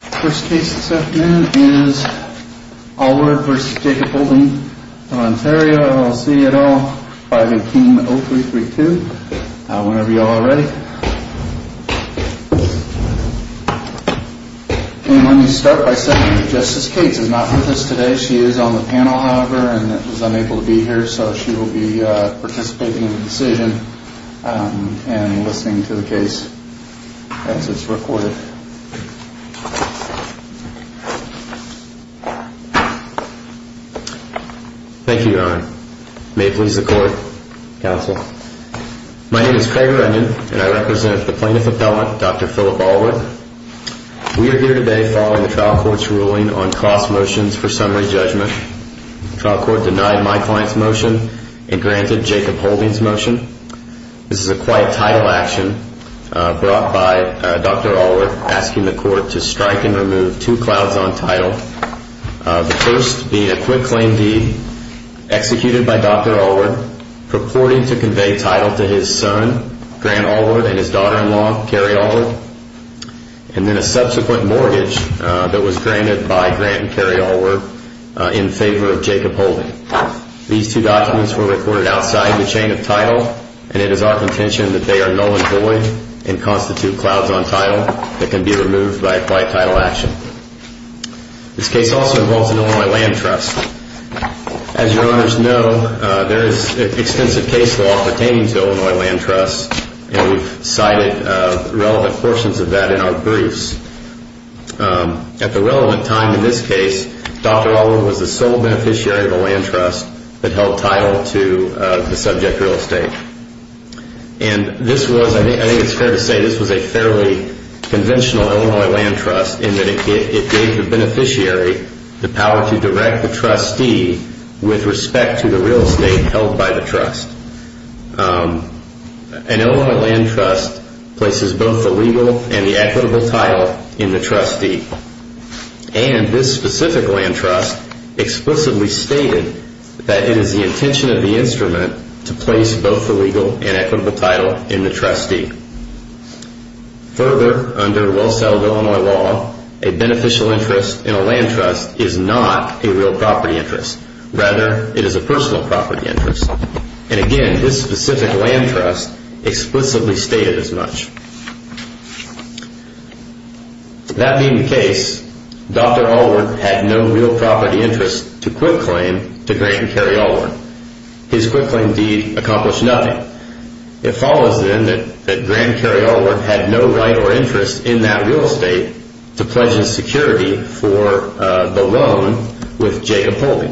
First case this afternoon is Award v. Jacob Holding of Ontario LLC at 518-0332. Whenever y'all are ready. Let me start by saying that Justice Cates is not with us today. She is on the panel, however, and was unable to be here. So she will be participating in the decision and listening to the case as it's recorded. Thank you, Your Honor. May it please the Court. Counsel. My name is Craig Runyon, and I represent the Plaintiff Appellant, Dr. Philip Allward. We are here today following the trial court's ruling on cross motions for summary judgment. The trial court denied my client's motion and granted Jacob Holding's motion. This is a quiet title action brought by Dr. Allward asking the court to strike and remove two clouds on title. The first being a quick claim deed executed by Dr. Allward purporting to convey title to his son, Grant Allward, and his daughter-in-law, Carrie Allward. And then a subsequent mortgage that was granted by Grant and Carrie Allward in favor of Jacob Holding. These two documents were recorded outside the chain of title, and it is our contention that they are null and void and constitute clouds on title that can be removed by a quiet title action. This case also involves an Illinois land trust. As Your Honors know, there is extensive case law pertaining to Illinois land trusts, and we've cited relevant portions of that in our briefs. At the relevant time in this case, Dr. Allward was the sole beneficiary of a land trust that held title to the subject real estate. And this was, I think it's fair to say, this was a fairly conventional Illinois land trust in that it gave the beneficiary the power to direct the trustee with respect to the real estate held by the trust. An Illinois land trust places both the legal and the equitable title in the trustee. And this specific land trust explicitly stated that it is the intention of the instrument to place both the legal and equitable title in the trustee. Further, under well-settled Illinois law, a beneficial interest in a land trust is not a real property interest. Rather, it is a personal property interest. And again, this specific land trust explicitly stated as much. That being the case, Dr. Allward had no real property interest to quit-claim to Grant and Carey Allward. His quit-claim deed accomplished nothing. It follows, then, that Grant and Carey Allward had no right or interest in that real estate to pledge insecurity for the loan with Jacob Holden.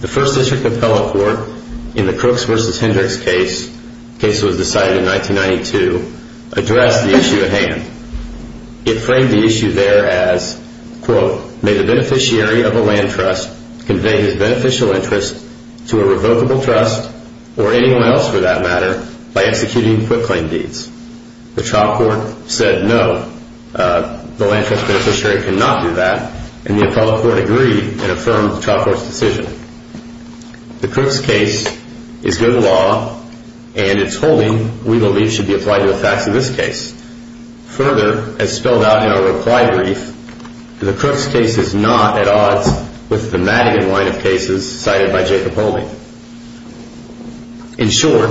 The First District Appellate Court, in the Crooks v. Hendricks case, a case that was decided in 1992, addressed the issue at hand. It framed the issue there as, quote, may the beneficiary of a land trust convey his beneficial interest to a revocable trust, or anyone else for that matter, by executing quit-claim deeds. The trial court said no, the land trust beneficiary cannot do that, and the appellate court agreed and affirmed the trial court's decision. The Crooks case is good law, and its holding, we believe, should be applied to the facts of this case. Further, as spelled out in our reply brief, the Crooks case is not at odds with the Madigan line of cases cited by Jacob Holden. In short,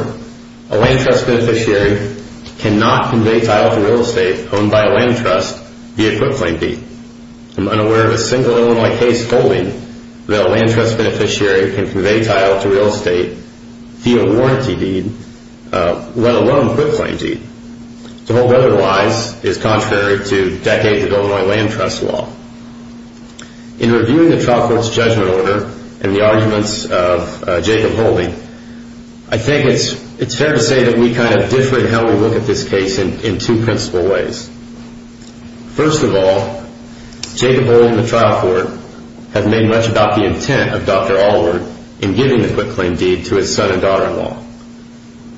a land trust beneficiary cannot convey title to real estate owned by a land trust via quit-claim deed. I am unaware of a single Illinois case holding that a land trust beneficiary can convey title to real estate via a warranty deed, let alone a quit-claim deed. To hold otherwise is contrary to decades of Illinois land trust law. In reviewing the trial court's judgment order and the arguments of Jacob Holden, I think it's fair to say that we kind of differ in how we look at this case in two principal ways. First of all, Jacob Holden and the trial court have made much about the intent of Dr. Allward in giving the quit-claim deed to his son and daughter-in-law.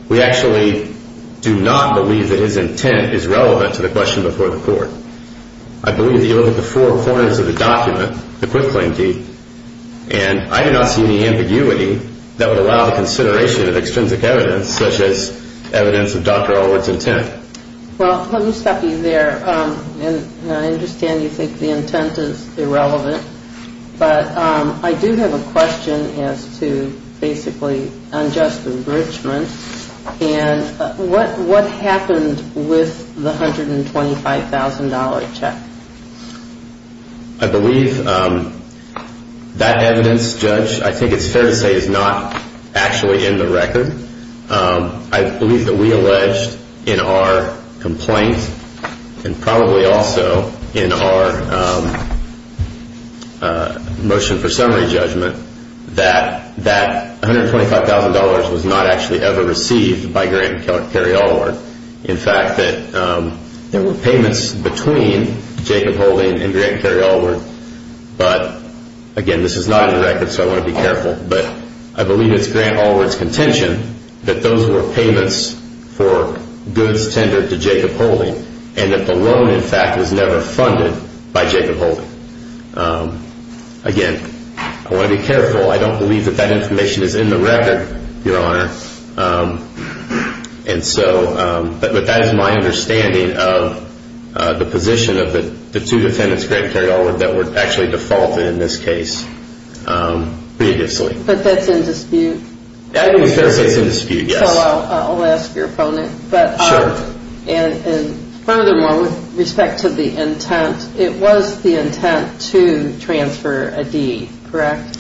We actually do not believe that his intent is relevant to the question before the court. I believe that you look at the four corners of the document, the quit-claim deed, and I do not see any ambiguity that would allow the consideration of extrinsic evidence such as evidence of Dr. Allward's intent. Well, let me stop you there, and I understand you think the intent is irrelevant, but I do have a question as to basically unjust enrichment, and what happened with the $125,000 check? I believe that evidence, Judge, I think it's fair to say is not actually in the record. I believe that we alleged in our complaint and probably also in our motion for summary judgment that that $125,000 was not actually ever received by Grant and Cary Allward. In fact, that there were payments between Jacob Holden and Grant and Cary Allward, but again, this is not in the record, so I want to be careful, but I believe it's Grant Allward's contention that those were payments for goods tendered to Jacob Holden and that the loan, in fact, was never funded by Jacob Holden. Again, I want to be careful. I don't believe that that information is in the record, Your Honor, but that is my understanding of the position of the two defendants, Grant and Cary Allward, that were actually defaulted in this case previously. But that's in dispute? I think it's fair to say it's in dispute, yes. I'll ask your opponent. Sure. And furthermore, with respect to the intent, it was the intent to transfer a deed, correct?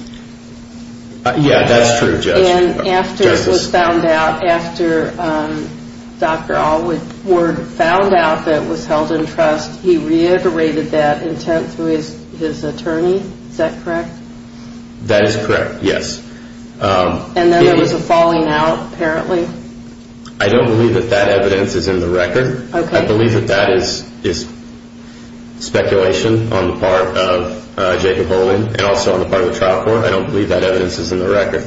Yeah, that's true, Judge. And after it was found out, after Dr. Allward found out that it was held in trust, he reiterated that intent to his attorney, is that correct? That is correct, yes. And then there was a falling out, apparently? I don't believe that that evidence is in the record. I believe that that is speculation on the part of Jacob Holden and also on the part of the trial court. I don't believe that evidence is in the record.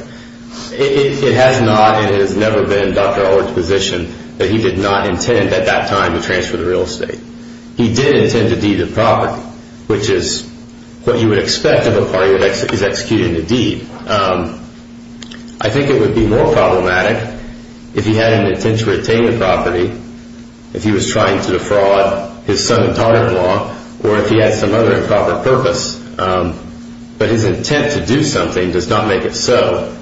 It has not and it has never been Dr. Allward's position that he did not intend at that time to transfer the real estate. He did intend to deed the property, which is what you would expect of a party that is executing a deed. I think it would be more problematic if he had an intent to retain the property, if he was trying to defraud his son-in-law, or if he had some other improper purpose. But his intent to do something does not make it so.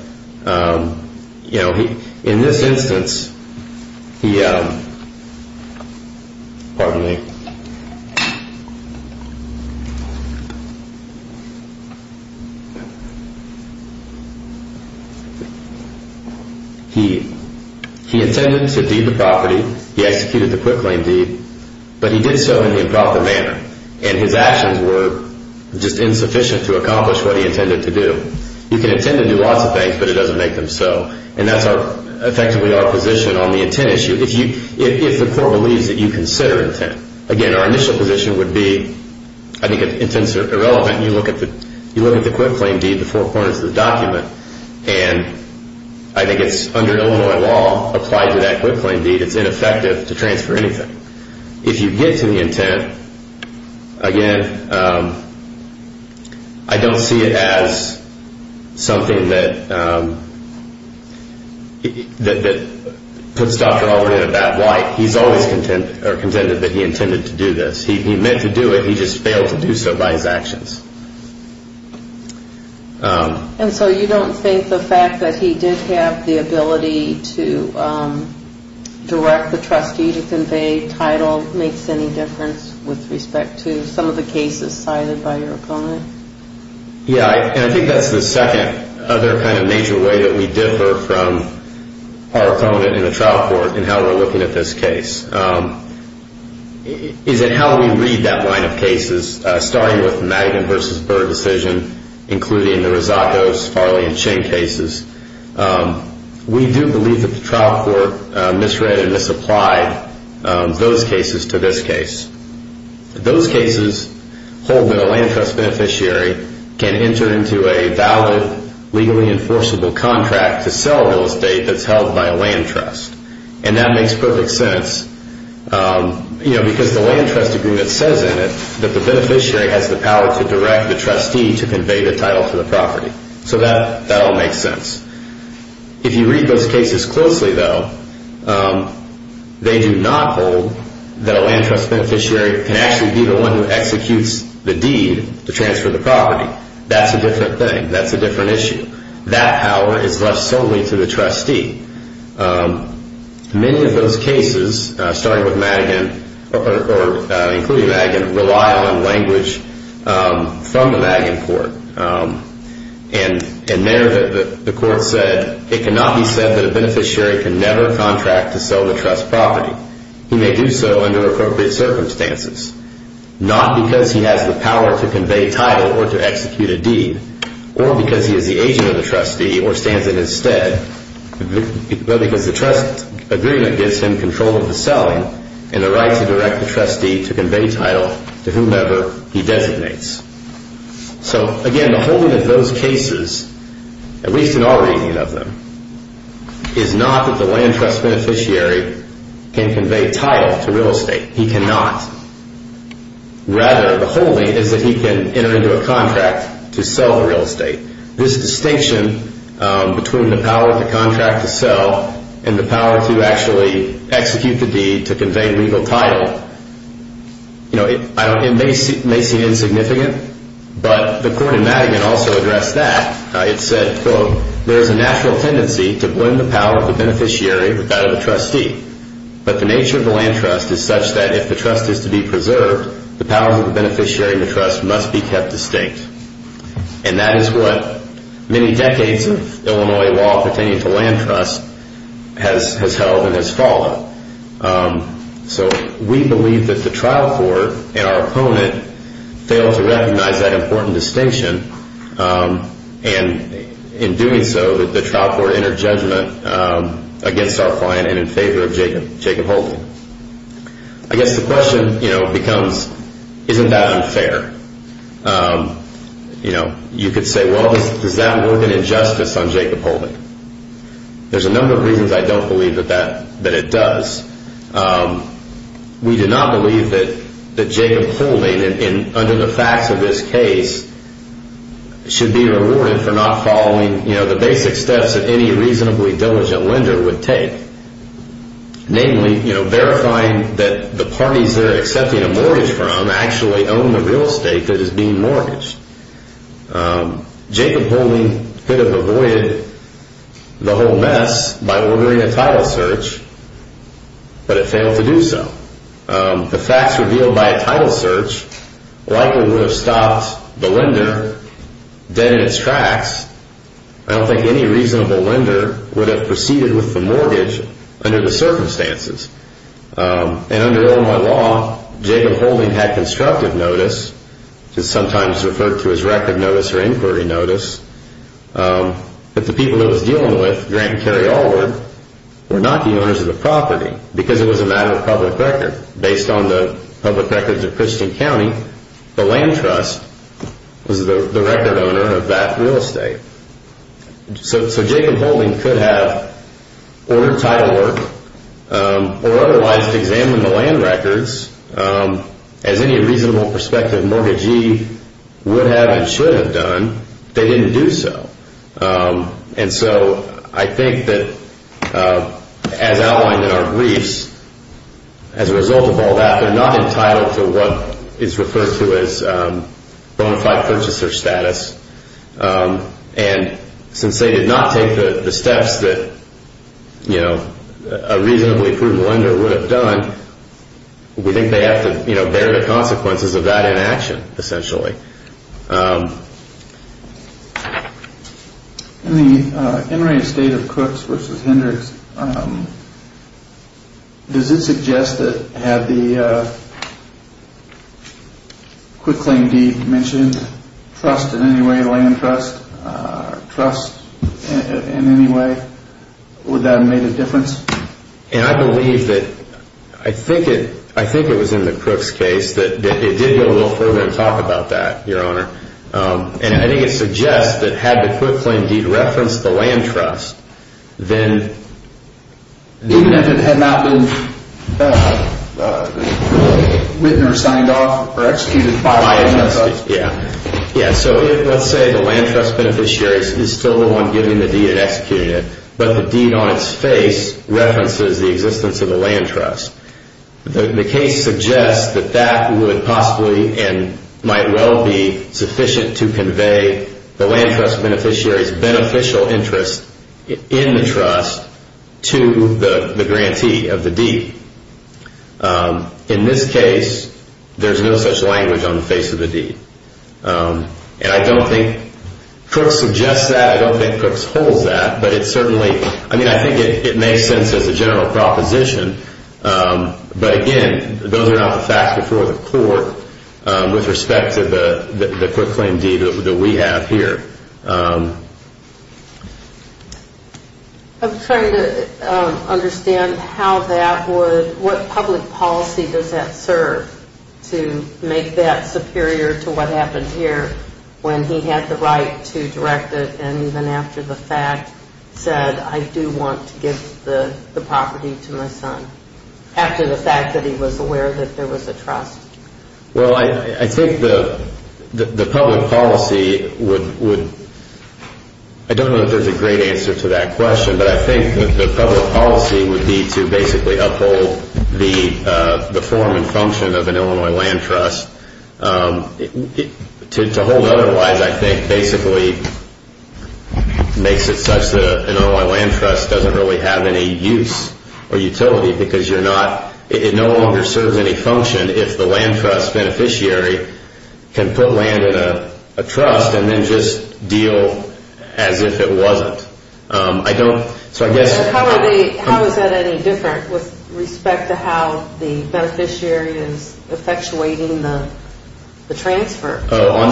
In this instance, he intended to deed the property. He executed the quick lane deed. But he did so in an improper manner, and his actions were just insufficient to accomplish what he intended to do. You can intend to do lots of things, but it doesn't make them so. And that's effectively our position on the intent issue, if the court believes that you consider intent. Again, our initial position would be, I think intents are irrelevant. You look at the quick lane deed, the four corners of the document, and I think it's under Illinois law, applied to that quick lane deed, it's ineffective to transfer anything. If you get to the intent, again, I don't see it as something that puts Dr. Albright at a bad light. He's always contended that he intended to do this. He meant to do it, he just failed to do so by his actions. And so you don't think the fact that he did have the ability to direct the trustee to convey title makes any difference with respect to some of the cases cited by your opponent? Yeah, and I think that's the second other kind of major way that we differ from our opponent in the trial court in how we're looking at this case. Is it how we read that line of cases, starting with the Magnin v. Burr decision, including the Rosatos, Farley, and Ching cases. We do believe that the trial court misread and misapplied those cases to this case. Those cases hold that a land trust beneficiary can enter into a valid, legally enforceable contract to sell real estate that's held by a land trust. And that makes perfect sense because the land trust agreement says in it that the beneficiary has the power to direct the trustee to convey the title to the property. So that all makes sense. If you read those cases closely, though, they do not hold that a land trust beneficiary can actually be the one who executes the deed to transfer the property. That's a different thing. That's a different issue. That power is left solely to the trustee. Many of those cases, starting with Magnin, or including Magnin, rely on language from the Magnin court. And there the court said, it cannot be said that a beneficiary can never contract to sell the trust property. He may do so under appropriate circumstances, not because he has the power to convey title or to execute a deed, or because he is the agent of the trustee or stands in his stead, but because the trust agreement gives him control of the selling and the right to direct the trustee to convey title to whomever he designates. So, again, the holding of those cases, at least in our reading of them, is not that the land trust beneficiary can convey title to real estate. He cannot. Rather, the holding is that he can enter into a contract to sell the real estate. This distinction between the power of the contract to sell and the power to actually execute the deed to convey legal title, it may seem insignificant, but the court in Magnin also addressed that. It said, quote, there is a natural tendency to blend the power of the beneficiary with that of the trustee. But the nature of the land trust is such that if the trust is to be preserved, the powers of the beneficiary and the trust must be kept distinct. And that is what many decades of Illinois law pertaining to land trust has held and has followed. So we believe that the trial court and our opponent fail to recognize that important distinction. And in doing so, that the trial court entered judgment against our client and in favor of Jacob Holden. I guess the question, you know, becomes, isn't that unfair? You know, you could say, well, does that work in injustice on Jacob Holden? There's a number of reasons I don't believe that it does. We do not believe that Jacob Holden, under the facts of this case, should be rewarded for not following, you know, the basic steps that any reasonably diligent lender would take. Namely, you know, verifying that the parties they're accepting a mortgage from actually own the real estate that is being mortgaged. Jacob Holden could have avoided the whole mess by ordering a title search, but it failed to do so. The facts revealed by a title search likely would have stopped the lender dead in its tracks. I don't think any reasonable lender would have proceeded with the mortgage under the circumstances. And under Illinois law, Jacob Holden had constructive notice, which is sometimes referred to as record notice or inquiry notice. But the people he was dealing with, Grant and Kerry Allward, were not the owners of the property because it was a matter of public record. Based on the public records of Christian County, the land trust was the record owner of that real estate. So Jacob Holden could have ordered title work or otherwise examined the land records as any reasonable prospective mortgagee would have and should have done, but they didn't do so. And so I think that as outlined in our briefs, as a result of all that, they're not entitled to what is referred to as bonafide purchaser status. And since they did not take the steps that a reasonably approved lender would have done, we think they have to bear the consequences of that in action, essentially. In the inter-estate of Crooks v. Hendricks, does it suggest that had the Quikling deed mentioned, trust in any way, land trust, trust in any way, would that have made a difference? And I believe that, I think it was in the Crooks case that it did go a little further to talk about that. And I think it suggests that had the Quikling deed referenced the land trust, then... Even if it had not been written or signed off or executed by the land trust? Yeah, so let's say the land trust beneficiary is still the one giving the deed and executing it, but the deed on its face references the existence of the land trust. The case suggests that that would possibly and might well be sufficient to convey the land trust beneficiary's beneficial interest in the trust to the grantee of the deed. In this case, there's no such language on the face of the deed. And I don't think Crooks suggests that, I don't think Crooks holds that, but it certainly... But again, those are not the facts before the court with respect to the Quikling deed that we have here. I'm trying to understand how that would, what public policy does that serve to make that superior to what happened here when he had the right to direct it and even after the fact said, I do want to give the property to my son, after the fact that he was aware that there was a trust? Well, I think the public policy would... I don't know if there's a great answer to that question, but I think that the public policy would be to basically uphold the form and function of an Illinois land trust. To hold otherwise, I think, basically makes it such that an Illinois land trust doesn't really have any use or utility because you're not, it no longer serves any function if the land trust beneficiary can put land in a trust and then just deal as if it wasn't. I don't, so I guess... How is that any different with respect to how the beneficiary is effectuating the transfer? Oh,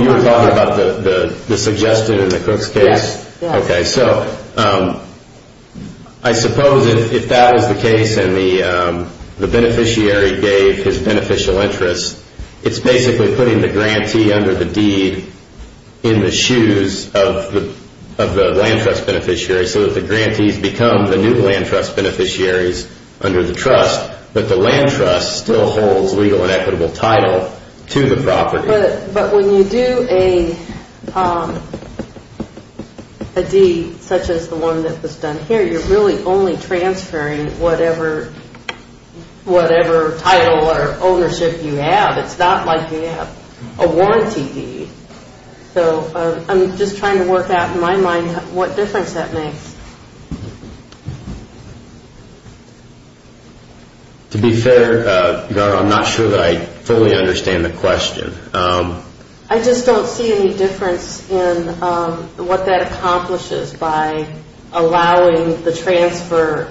you were talking about the suggestion in the Cook's case? Yes. Okay, so I suppose if that is the case and the beneficiary gave his beneficial interest, it's basically putting the grantee under the deed in the shoes of the land trust beneficiary so that the grantees become the new land trust beneficiaries under the trust, but the land trust still holds legal and equitable title to the property. But when you do a deed such as the one that was done here, you're really only transferring whatever title or ownership you have. It's not like you have a warranty deed. So I'm just trying to work out in my mind what difference that makes. To be fair, I'm not sure that I fully understand the question. I just don't see any difference in what that accomplishes by allowing the transfer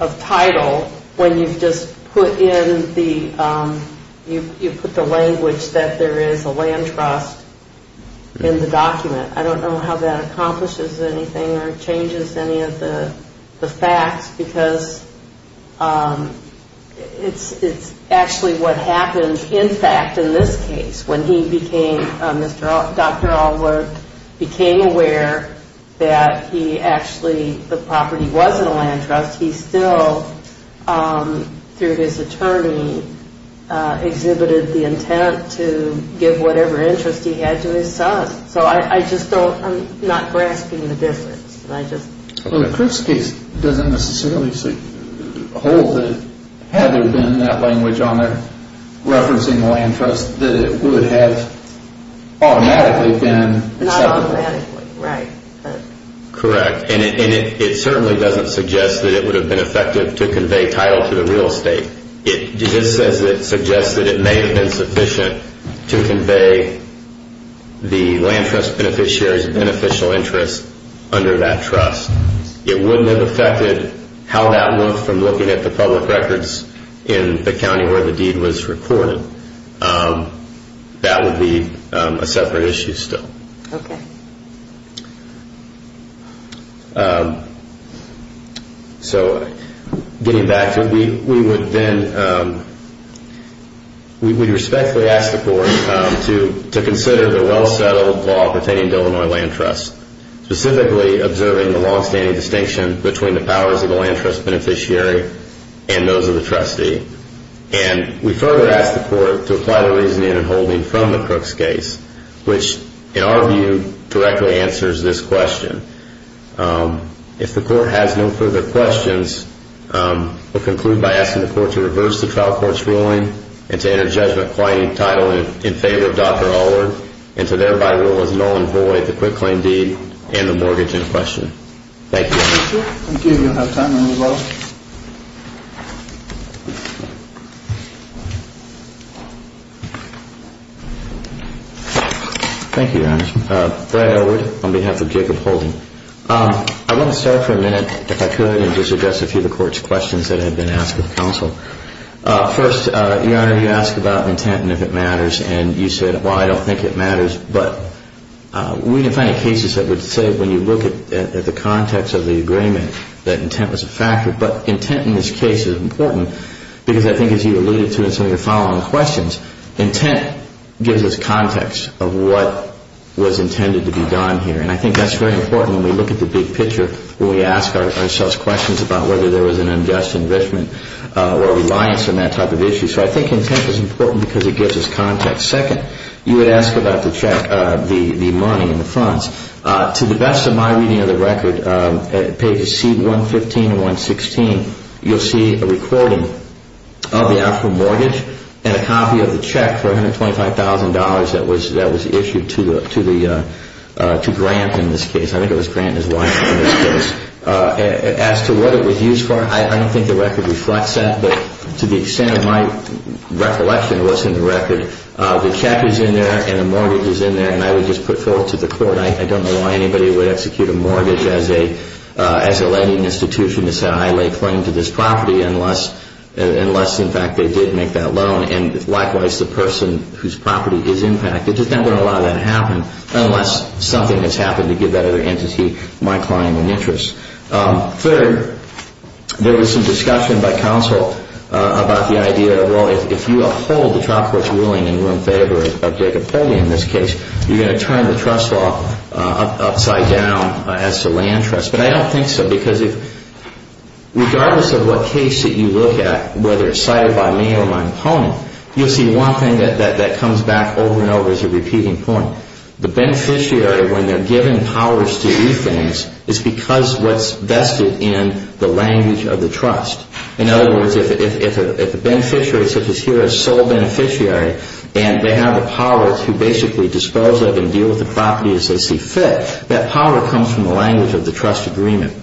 of title when you've just put in the language that there is a land trust in the document. I don't know how that accomplishes anything or changes any of the facts because it's actually what happened in fact in this case when Dr. Allwood became aware that the property wasn't a land trust. He still, through his attorney, exhibited the intent to give whatever interest he had to his son. So I'm not grasping the difference. Well, the Crooks case doesn't necessarily hold that had there been that language on there referencing the land trust that it would have automatically been acceptable. Not automatically, right. Correct. And it certainly doesn't suggest that it would have been effective to convey title to the real estate. It just says that it suggests that it may have been sufficient to convey the land trust beneficiary's beneficial interest under that trust. It wouldn't have affected how that looked from looking at the public records in the county where the deed was recorded. That would be a separate issue still. Okay. So getting back to it, we would then respectfully ask the court to consider the well-settled law pertaining to Illinois land trust, specifically observing the long-standing distinction between the powers of the land trust beneficiary and those of the trustee. And we further ask the court to apply the reasoning and holding from the Crooks case, which in our view directly answers this question. If the court has no further questions, we'll conclude by asking the court to reverse the trial court's ruling and to enter judgment claiming title in favor of Dr. Allard and to thereby rule as null and void the quit claim deed and the mortgage in question. Thank you. Thank you. Thank you. You'll have time to move on. Thank you, Your Honor. Brad Elwood on behalf of Jacob Holden. I want to start for a minute, if I could, and just address a few of the court's questions that have been asked of counsel. First, Your Honor, you asked about intent and if it matters, and you said, well, I don't think it matters. But we didn't find any cases that would say when you look at the context of the agreement that intent was a factor, but intent in this case is important because I think as you alluded to in some of your following questions, intent gives us context of what was intended to be done here. And I think that's very important when we look at the big picture when we ask ourselves questions about whether there was an unjust enrichment or reliance on that type of issue. So I think intent is important because it gives us context. Second, you had asked about the check, the money and the funds. To the best of my reading of the record, pages C115 and 116, you'll see a recording of the actual mortgage and a copy of the check for $125,000 that was issued to Grant in this case. I think it was Grant and his wife in this case. As to what it was used for, I don't think the record reflects that, but to the extent of my recollection of what's in the record, the check is in there and the mortgage is in there, and I would just put forth to the court, I don't know why anybody would execute a mortgage as a lending institution to say I lay claim to this property unless, in fact, they did make that loan. And likewise, the person whose property is impacted, it's just not going to allow that to happen unless something has happened to give that other entity my claim and interest. Third, there was some discussion by counsel about the idea of, well, if you uphold the child court's ruling in room favor of Jacob Poley in this case, you're going to turn the trust law upside down as to land trust, but I don't think so because regardless of what case that you look at, whether it's cited by me or my opponent, you'll see one thing that comes back over and over as a repeating point. The beneficiary, when they're given powers to do things, it's because what's vested in the language of the trust. In other words, if a beneficiary, such as here, a sole beneficiary, and they have the power to basically dispose of and deal with the property as they see fit, that power comes from the language of the trust agreement.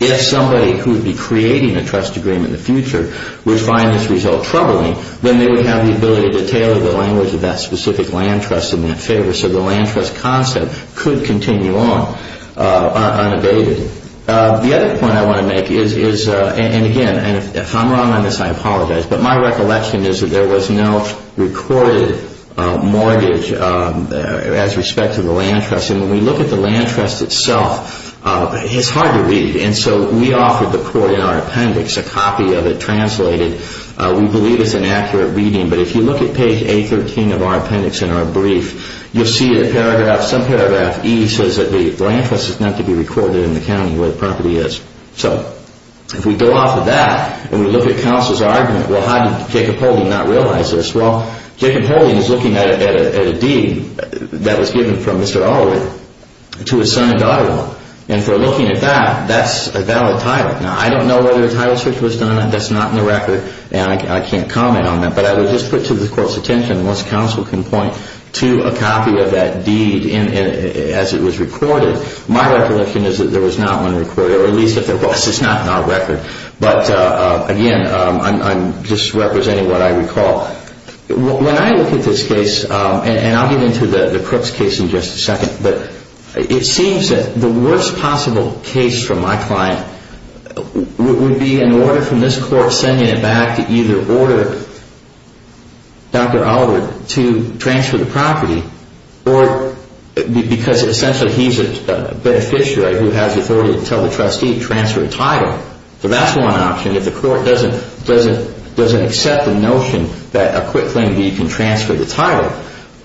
If somebody who would be creating a trust agreement in the future would find this result troubling, then they would have the ability to tailor the language of that specific land trust in their favor so the land trust concept could continue on unabated. The other point I want to make is, and again, if I'm wrong on this, I apologize, but my recollection is that there was no recorded mortgage as respect to the land trust, and when we look at the land trust itself, it's hard to read, and so we offered the court in our appendix a copy of it translated. We believe it's an accurate reading, but if you look at page 813 of our appendix in our brief, you'll see some paragraph E says that the land trust is not to be recorded in the county where the property is. So if we go off of that and we look at counsel's argument, well, how did Jacob Holden not realize this? Well, Jacob Holden is looking at a deed that was given from Mr. Allwood to his son and daughter-in-law, and if we're looking at that, that's a valid title. Now, I don't know whether a title switch was done. That's not in the record, and I can't comment on that, but I would just put to the court's attention, once counsel can point to a copy of that deed as it was recorded, my recollection is that there was not one recorded, or at least if there was, it's not in our record. But, again, I'm just representing what I recall. When I look at this case, and I'll get into the Crooks case in just a second, but it seems that the worst possible case from my client would be an order from this court sending it back to either order Dr. Allwood to transfer the property, or because essentially he's a beneficiary who has authority to tell the trustee to transfer a title. So that's one option if the court doesn't accept the notion that a quick claim deed can transfer the title.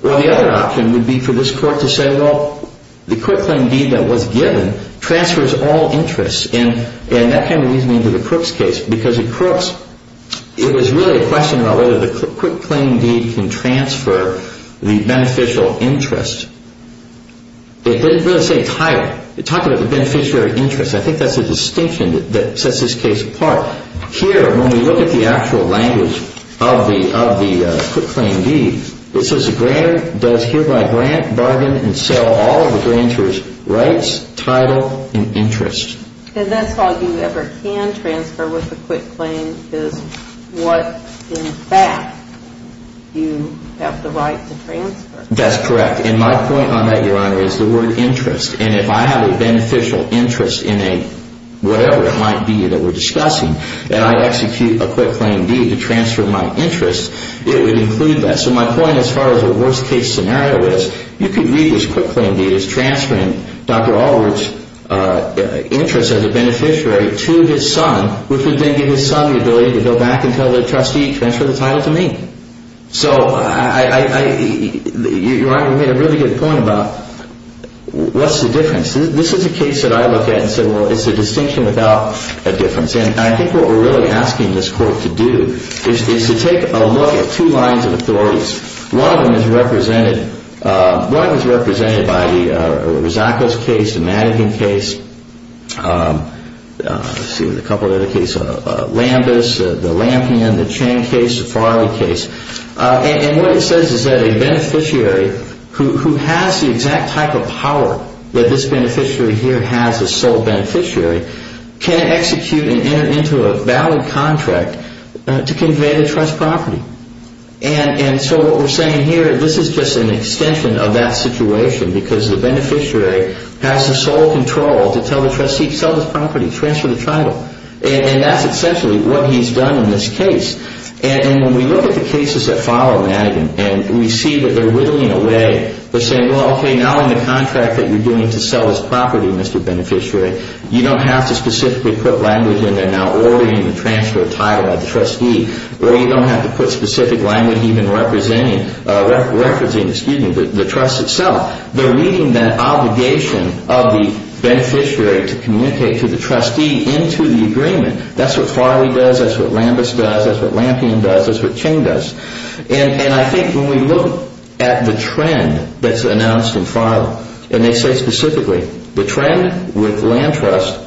Well, the other option would be for this court to say, well, the quick claim deed that was given transfers all interests, and that kind of leads me into the Crooks case, because in Crooks, it was really a question about whether the quick claim deed can transfer the beneficial interest. It didn't really say title. It talked about the beneficiary interest. I think that's the distinction that sets this case apart. Here, when we look at the actual language of the quick claim deed, it says the grantor does hereby grant, bargain, and sell all of the grantor's rights, title, and interest. And that's all you ever can transfer with a quick claim is what, in fact, you have the right to transfer. That's correct, and my point on that, Your Honor, is the word interest, and if I have a beneficial interest in a whatever it might be that we're discussing, and I execute a quick claim deed to transfer my interest, it would include that. So my point as far as the worst case scenario is, you could read this quick claim deed as transferring Dr. Allwood's interest as a beneficiary to his son, which would then give his son the ability to go back and tell the trustee, transfer the title to me. So, Your Honor, you made a really good point about what's the difference. This is a case that I look at and say, well, it's a distinction without a difference, and I think what we're really asking this court to do is to take a look at two lines of authorities. One of them is represented by the Rosacco's case, the Madigan case, let's see, a couple of other cases, Lambus, the Lampion, the Chang case, the Farley case, and what it says is that a beneficiary who has the exact type of power that this beneficiary here has as sole beneficiary can execute and enter into a valid contract to convey the trust property. And so what we're saying here, this is just an extension of that situation because the beneficiary has the sole control to tell the trustee, sell this property, transfer the title. And that's essentially what he's done in this case. And when we look at the cases that follow Madigan and we see that they're whittling away, they're saying, well, okay, now in the contract that you're doing to sell this property, Mr. Beneficiary, you don't have to specifically put language in there now ordering the transfer of title of the trustee, or you don't have to put specific language even representing the trust itself. They're reading that obligation of the beneficiary to communicate to the trustee into the agreement. That's what Farley does, that's what Lambus does, that's what Lampion does, that's what Chang does. And I think when we look at the trend that's announced in Farley, and they say specifically, the trend with land trust,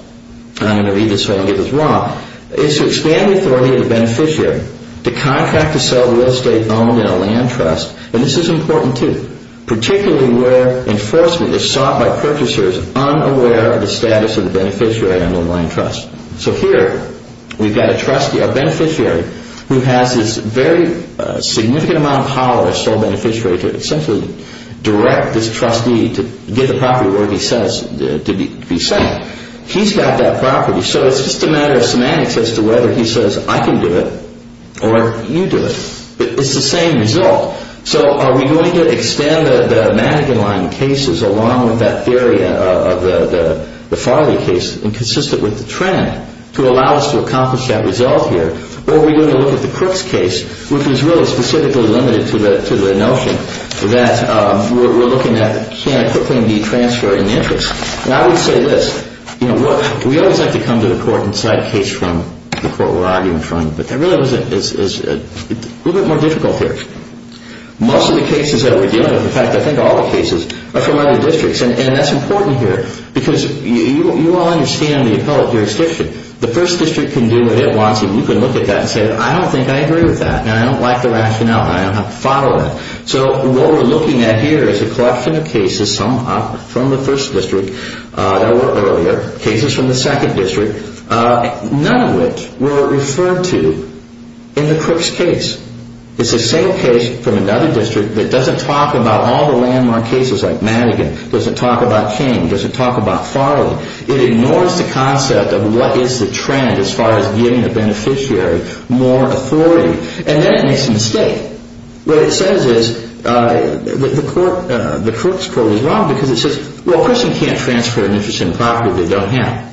and I'm going to read this so I don't get this wrong, is to expand the authority of the beneficiary to contract to sell the real estate owned in a land trust, and this is important too, particularly where enforcement is sought by purchasers unaware of the status of the beneficiary under the land trust. So here we've got a trustee, our beneficiary, who has this very significant amount of power as sole beneficiary to essentially direct this trustee to get the property where he says to be sent. He's got that property, so it's just a matter of semantics as to whether he says I can do it or you do it. It's the same result. So are we going to extend the mannequin line in cases along with that theory of the Farley case and consistent with the trend to allow us to accomplish that result here, or are we going to look at the Crooks case, which is really specifically limited to the notion that we're looking at can equipment be transferred in the interest? And I would say this. We always like to come to the court and cite a case from the court we're arguing in front of, but that really is a little bit more difficult here. Most of the cases that we're dealing with, in fact I think all the cases, are from other districts, and that's important here because you all understand the appellate jurisdiction. The first district can do what it wants, and you can look at that and say I don't think I agree with that, and I don't like the rationale, and I don't have to follow that. So what we're looking at here is a collection of cases, some from the first district that were earlier, cases from the second district, none of which were referred to in the Crooks case. It's the same case from another district that doesn't talk about all the landmark cases like Madigan, doesn't talk about King, doesn't talk about Farley. It ignores the concept of what is the trend as far as giving the beneficiary more authority, and then it makes a mistake. What it says is the Crooks court is wrong because it says, well, a person can't transfer an interest in a property they don't have.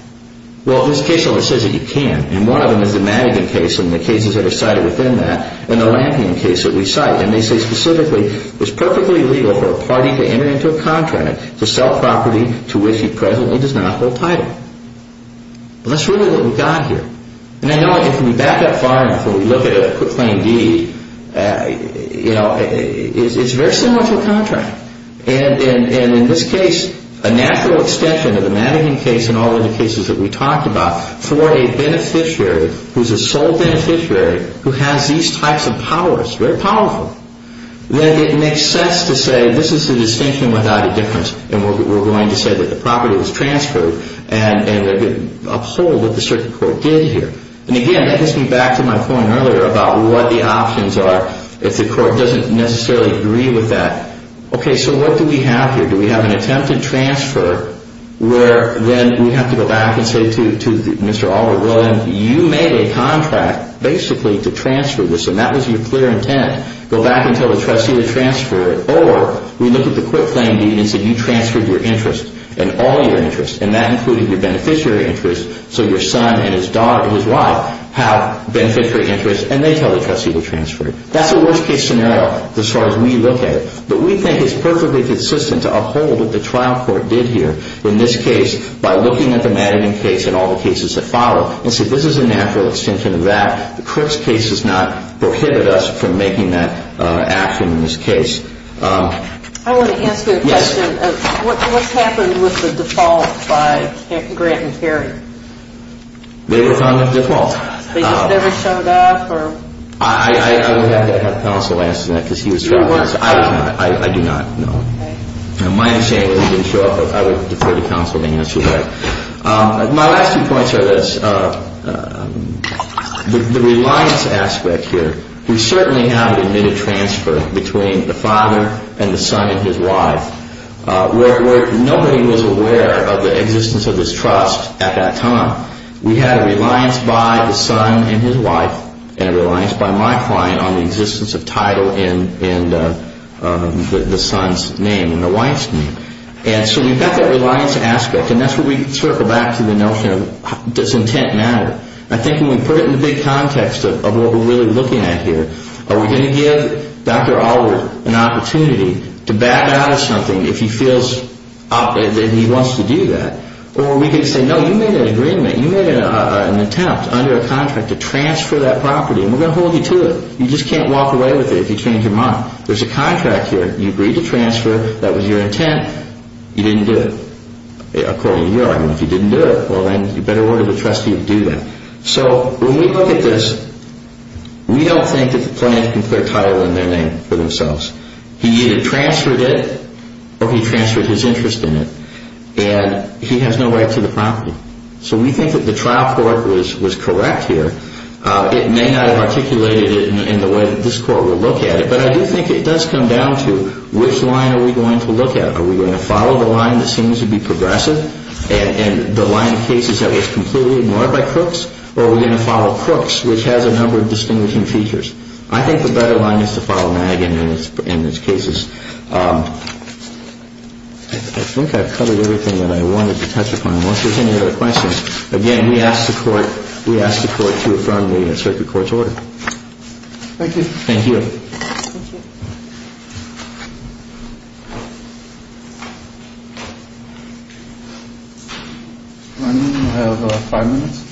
Well, this case only says that he can, and one of them is the Madigan case, and the cases that are cited within that, and the Lampion case that we cite, and they say specifically it's perfectly legal for a party to enter into a contract to sell property to which he presently does not hold title. Well, that's really what we've got here, and I know if we back up far enough and we look at claim D, you know, it's very similar to a contract, and in this case a natural extension of the Madigan case and all the other cases that we talked about for a beneficiary who's a sole beneficiary who has these types of powers, very powerful, then it makes sense to say this is the distinction without a difference, and we're going to say that the property was transferred, and uphold what the circuit court did here. And again, that gets me back to my point earlier about what the options are if the court doesn't necessarily agree with that. Okay, so what do we have here? Do we have an attempt to transfer where then we have to go back and say to Mr. Albert William, you made a contract basically to transfer this, and that was your clear intent. Go back and tell the trustee to transfer it, or we look at the quick claim deed and say you transferred your interest and all your interests, and that included your beneficiary interest, so your son and his wife have beneficiary interests, and they tell the trustee to transfer it. That's a worst-case scenario as far as we look at it, but we think it's perfectly consistent to uphold what the trial court did here in this case by looking at the Madigan case and all the cases that follow, and say this is a natural extension of that. The Crooks case does not prohibit us from making that action in this case. I want to ask you a question. Yes. What's happened with the default by Grant and Perry? They were found with default. They just never showed up, or? I would have to have counsel answer that because he was trying to answer that. I do not know. My understanding is he didn't show up, but I would defer to counsel to answer that. My last two points are this. The reliance aspect here, we certainly have admitted transfer between the father and the son and his wife. Nobody was aware of the existence of this trust at that time. We had a reliance by the son and his wife and a reliance by my client on the existence of title in the son's name and the wife's name. And so we've got that reliance aspect, and that's where we circle back to the notion of does intent matter. I think when we put it in the big context of what we're really looking at here, are we going to give Dr. Allwood an opportunity to back out of something if he feels that he wants to do that, or we could say, no, you made an agreement. You made an attempt under a contract to transfer that property, and we're going to hold you to it. You just can't walk away with it if you change your mind. There's a contract here. You agreed to transfer. That was your intent. You didn't do it. According to your argument, if you didn't do it, well, then you better order the trustee to do that. So when we look at this, we don't think that the client can clear title in their name for themselves. He either transferred it or he transferred his interest in it. And he has no right to the property. So we think that the trial court was correct here. It may not have articulated it in the way that this court will look at it, but I do think it does come down to which line are we going to look at. Are we going to follow the line that seems to be progressive and the line of cases that was completely ignored by Crooks, or are we going to follow Crooks, which has a number of distinguishing features? I think the better line is to follow Nagin in his cases. I think I've covered everything that I wanted to touch upon. Once there's any other questions, again, we ask the court to affirm the circuit court's order. Thank you. Thank you. Thank you. We have five minutes.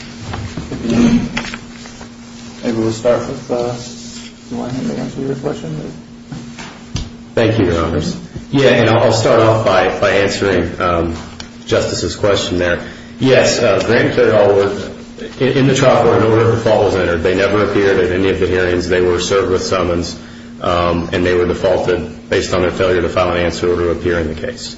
Maybe we'll start with one to answer your question. Thank you, Your Honors. Yeah, and I'll start off by answering Justice's question there. Yes, Grant cleared all work in the trial court in order that the fault was entered. They never appeared at any of the hearings. They were served with summons, and they were defaulted based on their failure to file an answer in order to appear in the case.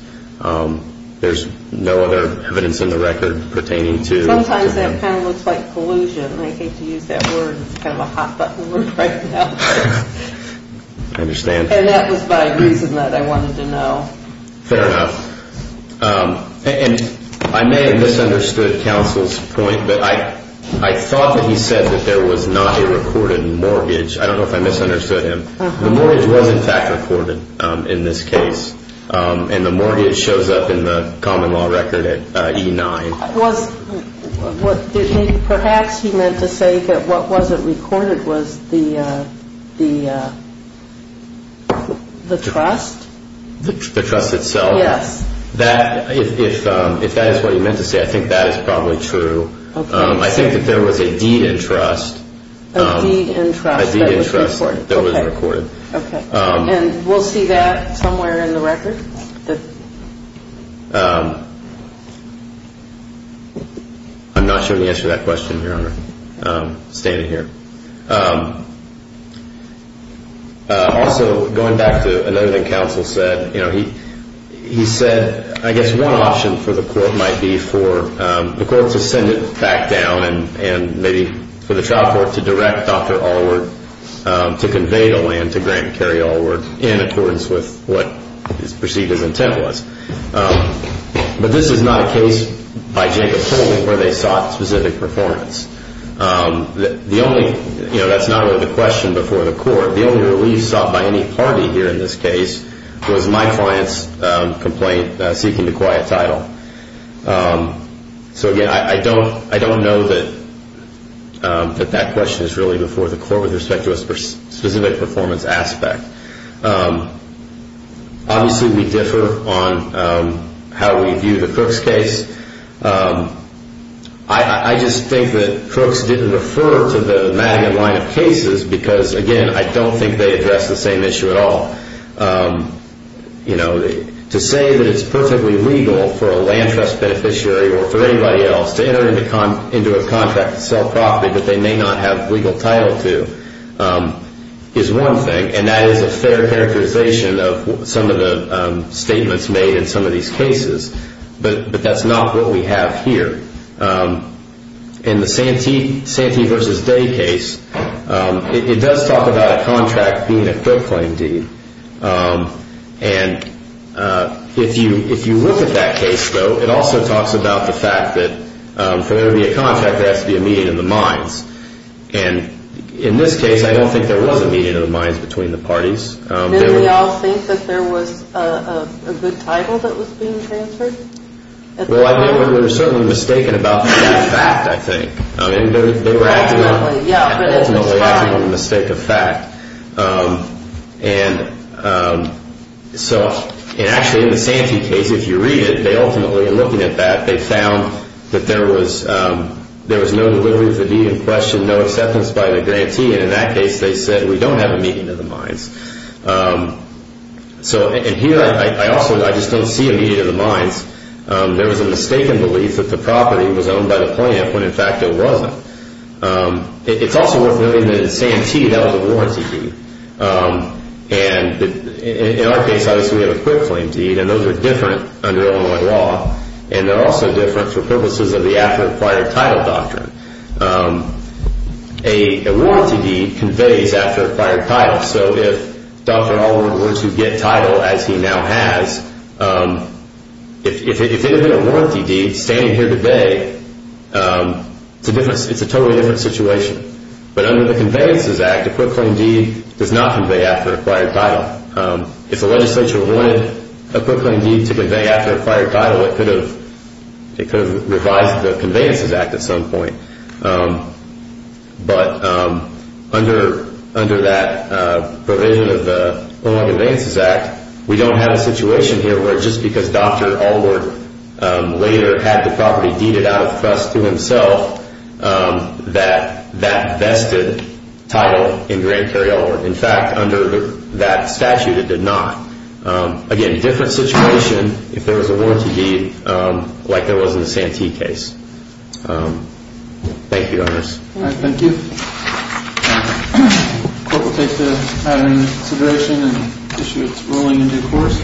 There's no other evidence in the record pertaining to that. Sometimes that kind of looks like collusion. I hate to use that word. It's kind of a hot-button word right now. I understand. And that was my reason that I wanted to know. Fair enough. And I may have misunderstood counsel's point, but I thought that he said that there was not a recorded mortgage. I don't know if I misunderstood him. The mortgage was, in fact, recorded in this case, and the mortgage shows up in the common law record at E-9. Perhaps he meant to say that what wasn't recorded was the trust? The trust itself. Yes. If that is what he meant to say, I think that is probably true. I think that there was a deed in trust. A deed in trust that was recorded. A deed in trust that was recorded. Okay. And we'll see that somewhere in the record? I'm not sure the answer to that question, Your Honor, standing here. Also, going back to another thing counsel said, he said I guess one option for the court might be for the court to send it back down and maybe for the trial court to direct Dr. Allward to convey the land to Grant and Carrie Allward in accordance with what is perceived as intent was. But this is not a case, by Jacob's ruling, where they sought specific performance. That's not really the question before the court. The only relief sought by any party here in this case was my client's complaint seeking the quiet title. So, again, I don't know that that question is really before the court with respect to a specific performance aspect. Obviously, we differ on how we view the Crooks case. I just think that Crooks didn't refer to the Madigan line of cases because, again, I don't think they address the same issue at all. To say that it's perfectly legal for a land trust beneficiary or for anybody else to enter into a contract to sell property that they may not have legal title to is one thing, and that is a fair characterization of some of the statements made in some of these cases. But that's not what we have here. In the Santee v. Day case, it does talk about a contract being a court claim deed. And if you look at that case, though, it also talks about the fact that for there to be a contract, there has to be a meeting of the minds. And in this case, I don't think there was a meeting of the minds between the parties. Didn't we all think that there was a good title that was being transferred? Well, I think we were certainly mistaken about that fact, I think. I mean, they were ultimately acting on the mistake of fact. And so, actually, in the Santee case, if you read it, they ultimately, in looking at that, they found that there was no, literally, the deed in question, no acceptance by the grantee. And in that case, they said, we don't have a meeting of the minds. So, and here, I also, I just don't see a meeting of the minds. There was a mistaken belief that the property was owned by the plaintiff when, in fact, it wasn't. It's also worth noting that in Santee, that was a warranty deed. And in our case, obviously, we have a court claim deed, and those are different under Illinois law, and they're also different for purposes of the after-acquired title doctrine. A warranty deed conveys after-acquired title. So if Dr. Oliver were to get title, as he now has, if it had been a warranty deed, standing here today, it's a totally different situation. But under the Conveyances Act, a court claim deed does not convey after-acquired title. If the legislature wanted a court claim deed to convey after-acquired title, it could have revised the Conveyances Act at some point. But under that provision of the Illinois Conveyances Act, we don't have a situation here where just because Dr. Oliver later had the property deeded out of trust to himself, that that vested title in Grant Kerry-Oliver. In fact, under that statute, it did not. Again, different situation if there was a warranty deed like there was in the Santee case. Thank you, Your Honors. Thank you. The court will take that into consideration and issue its ruling in due course.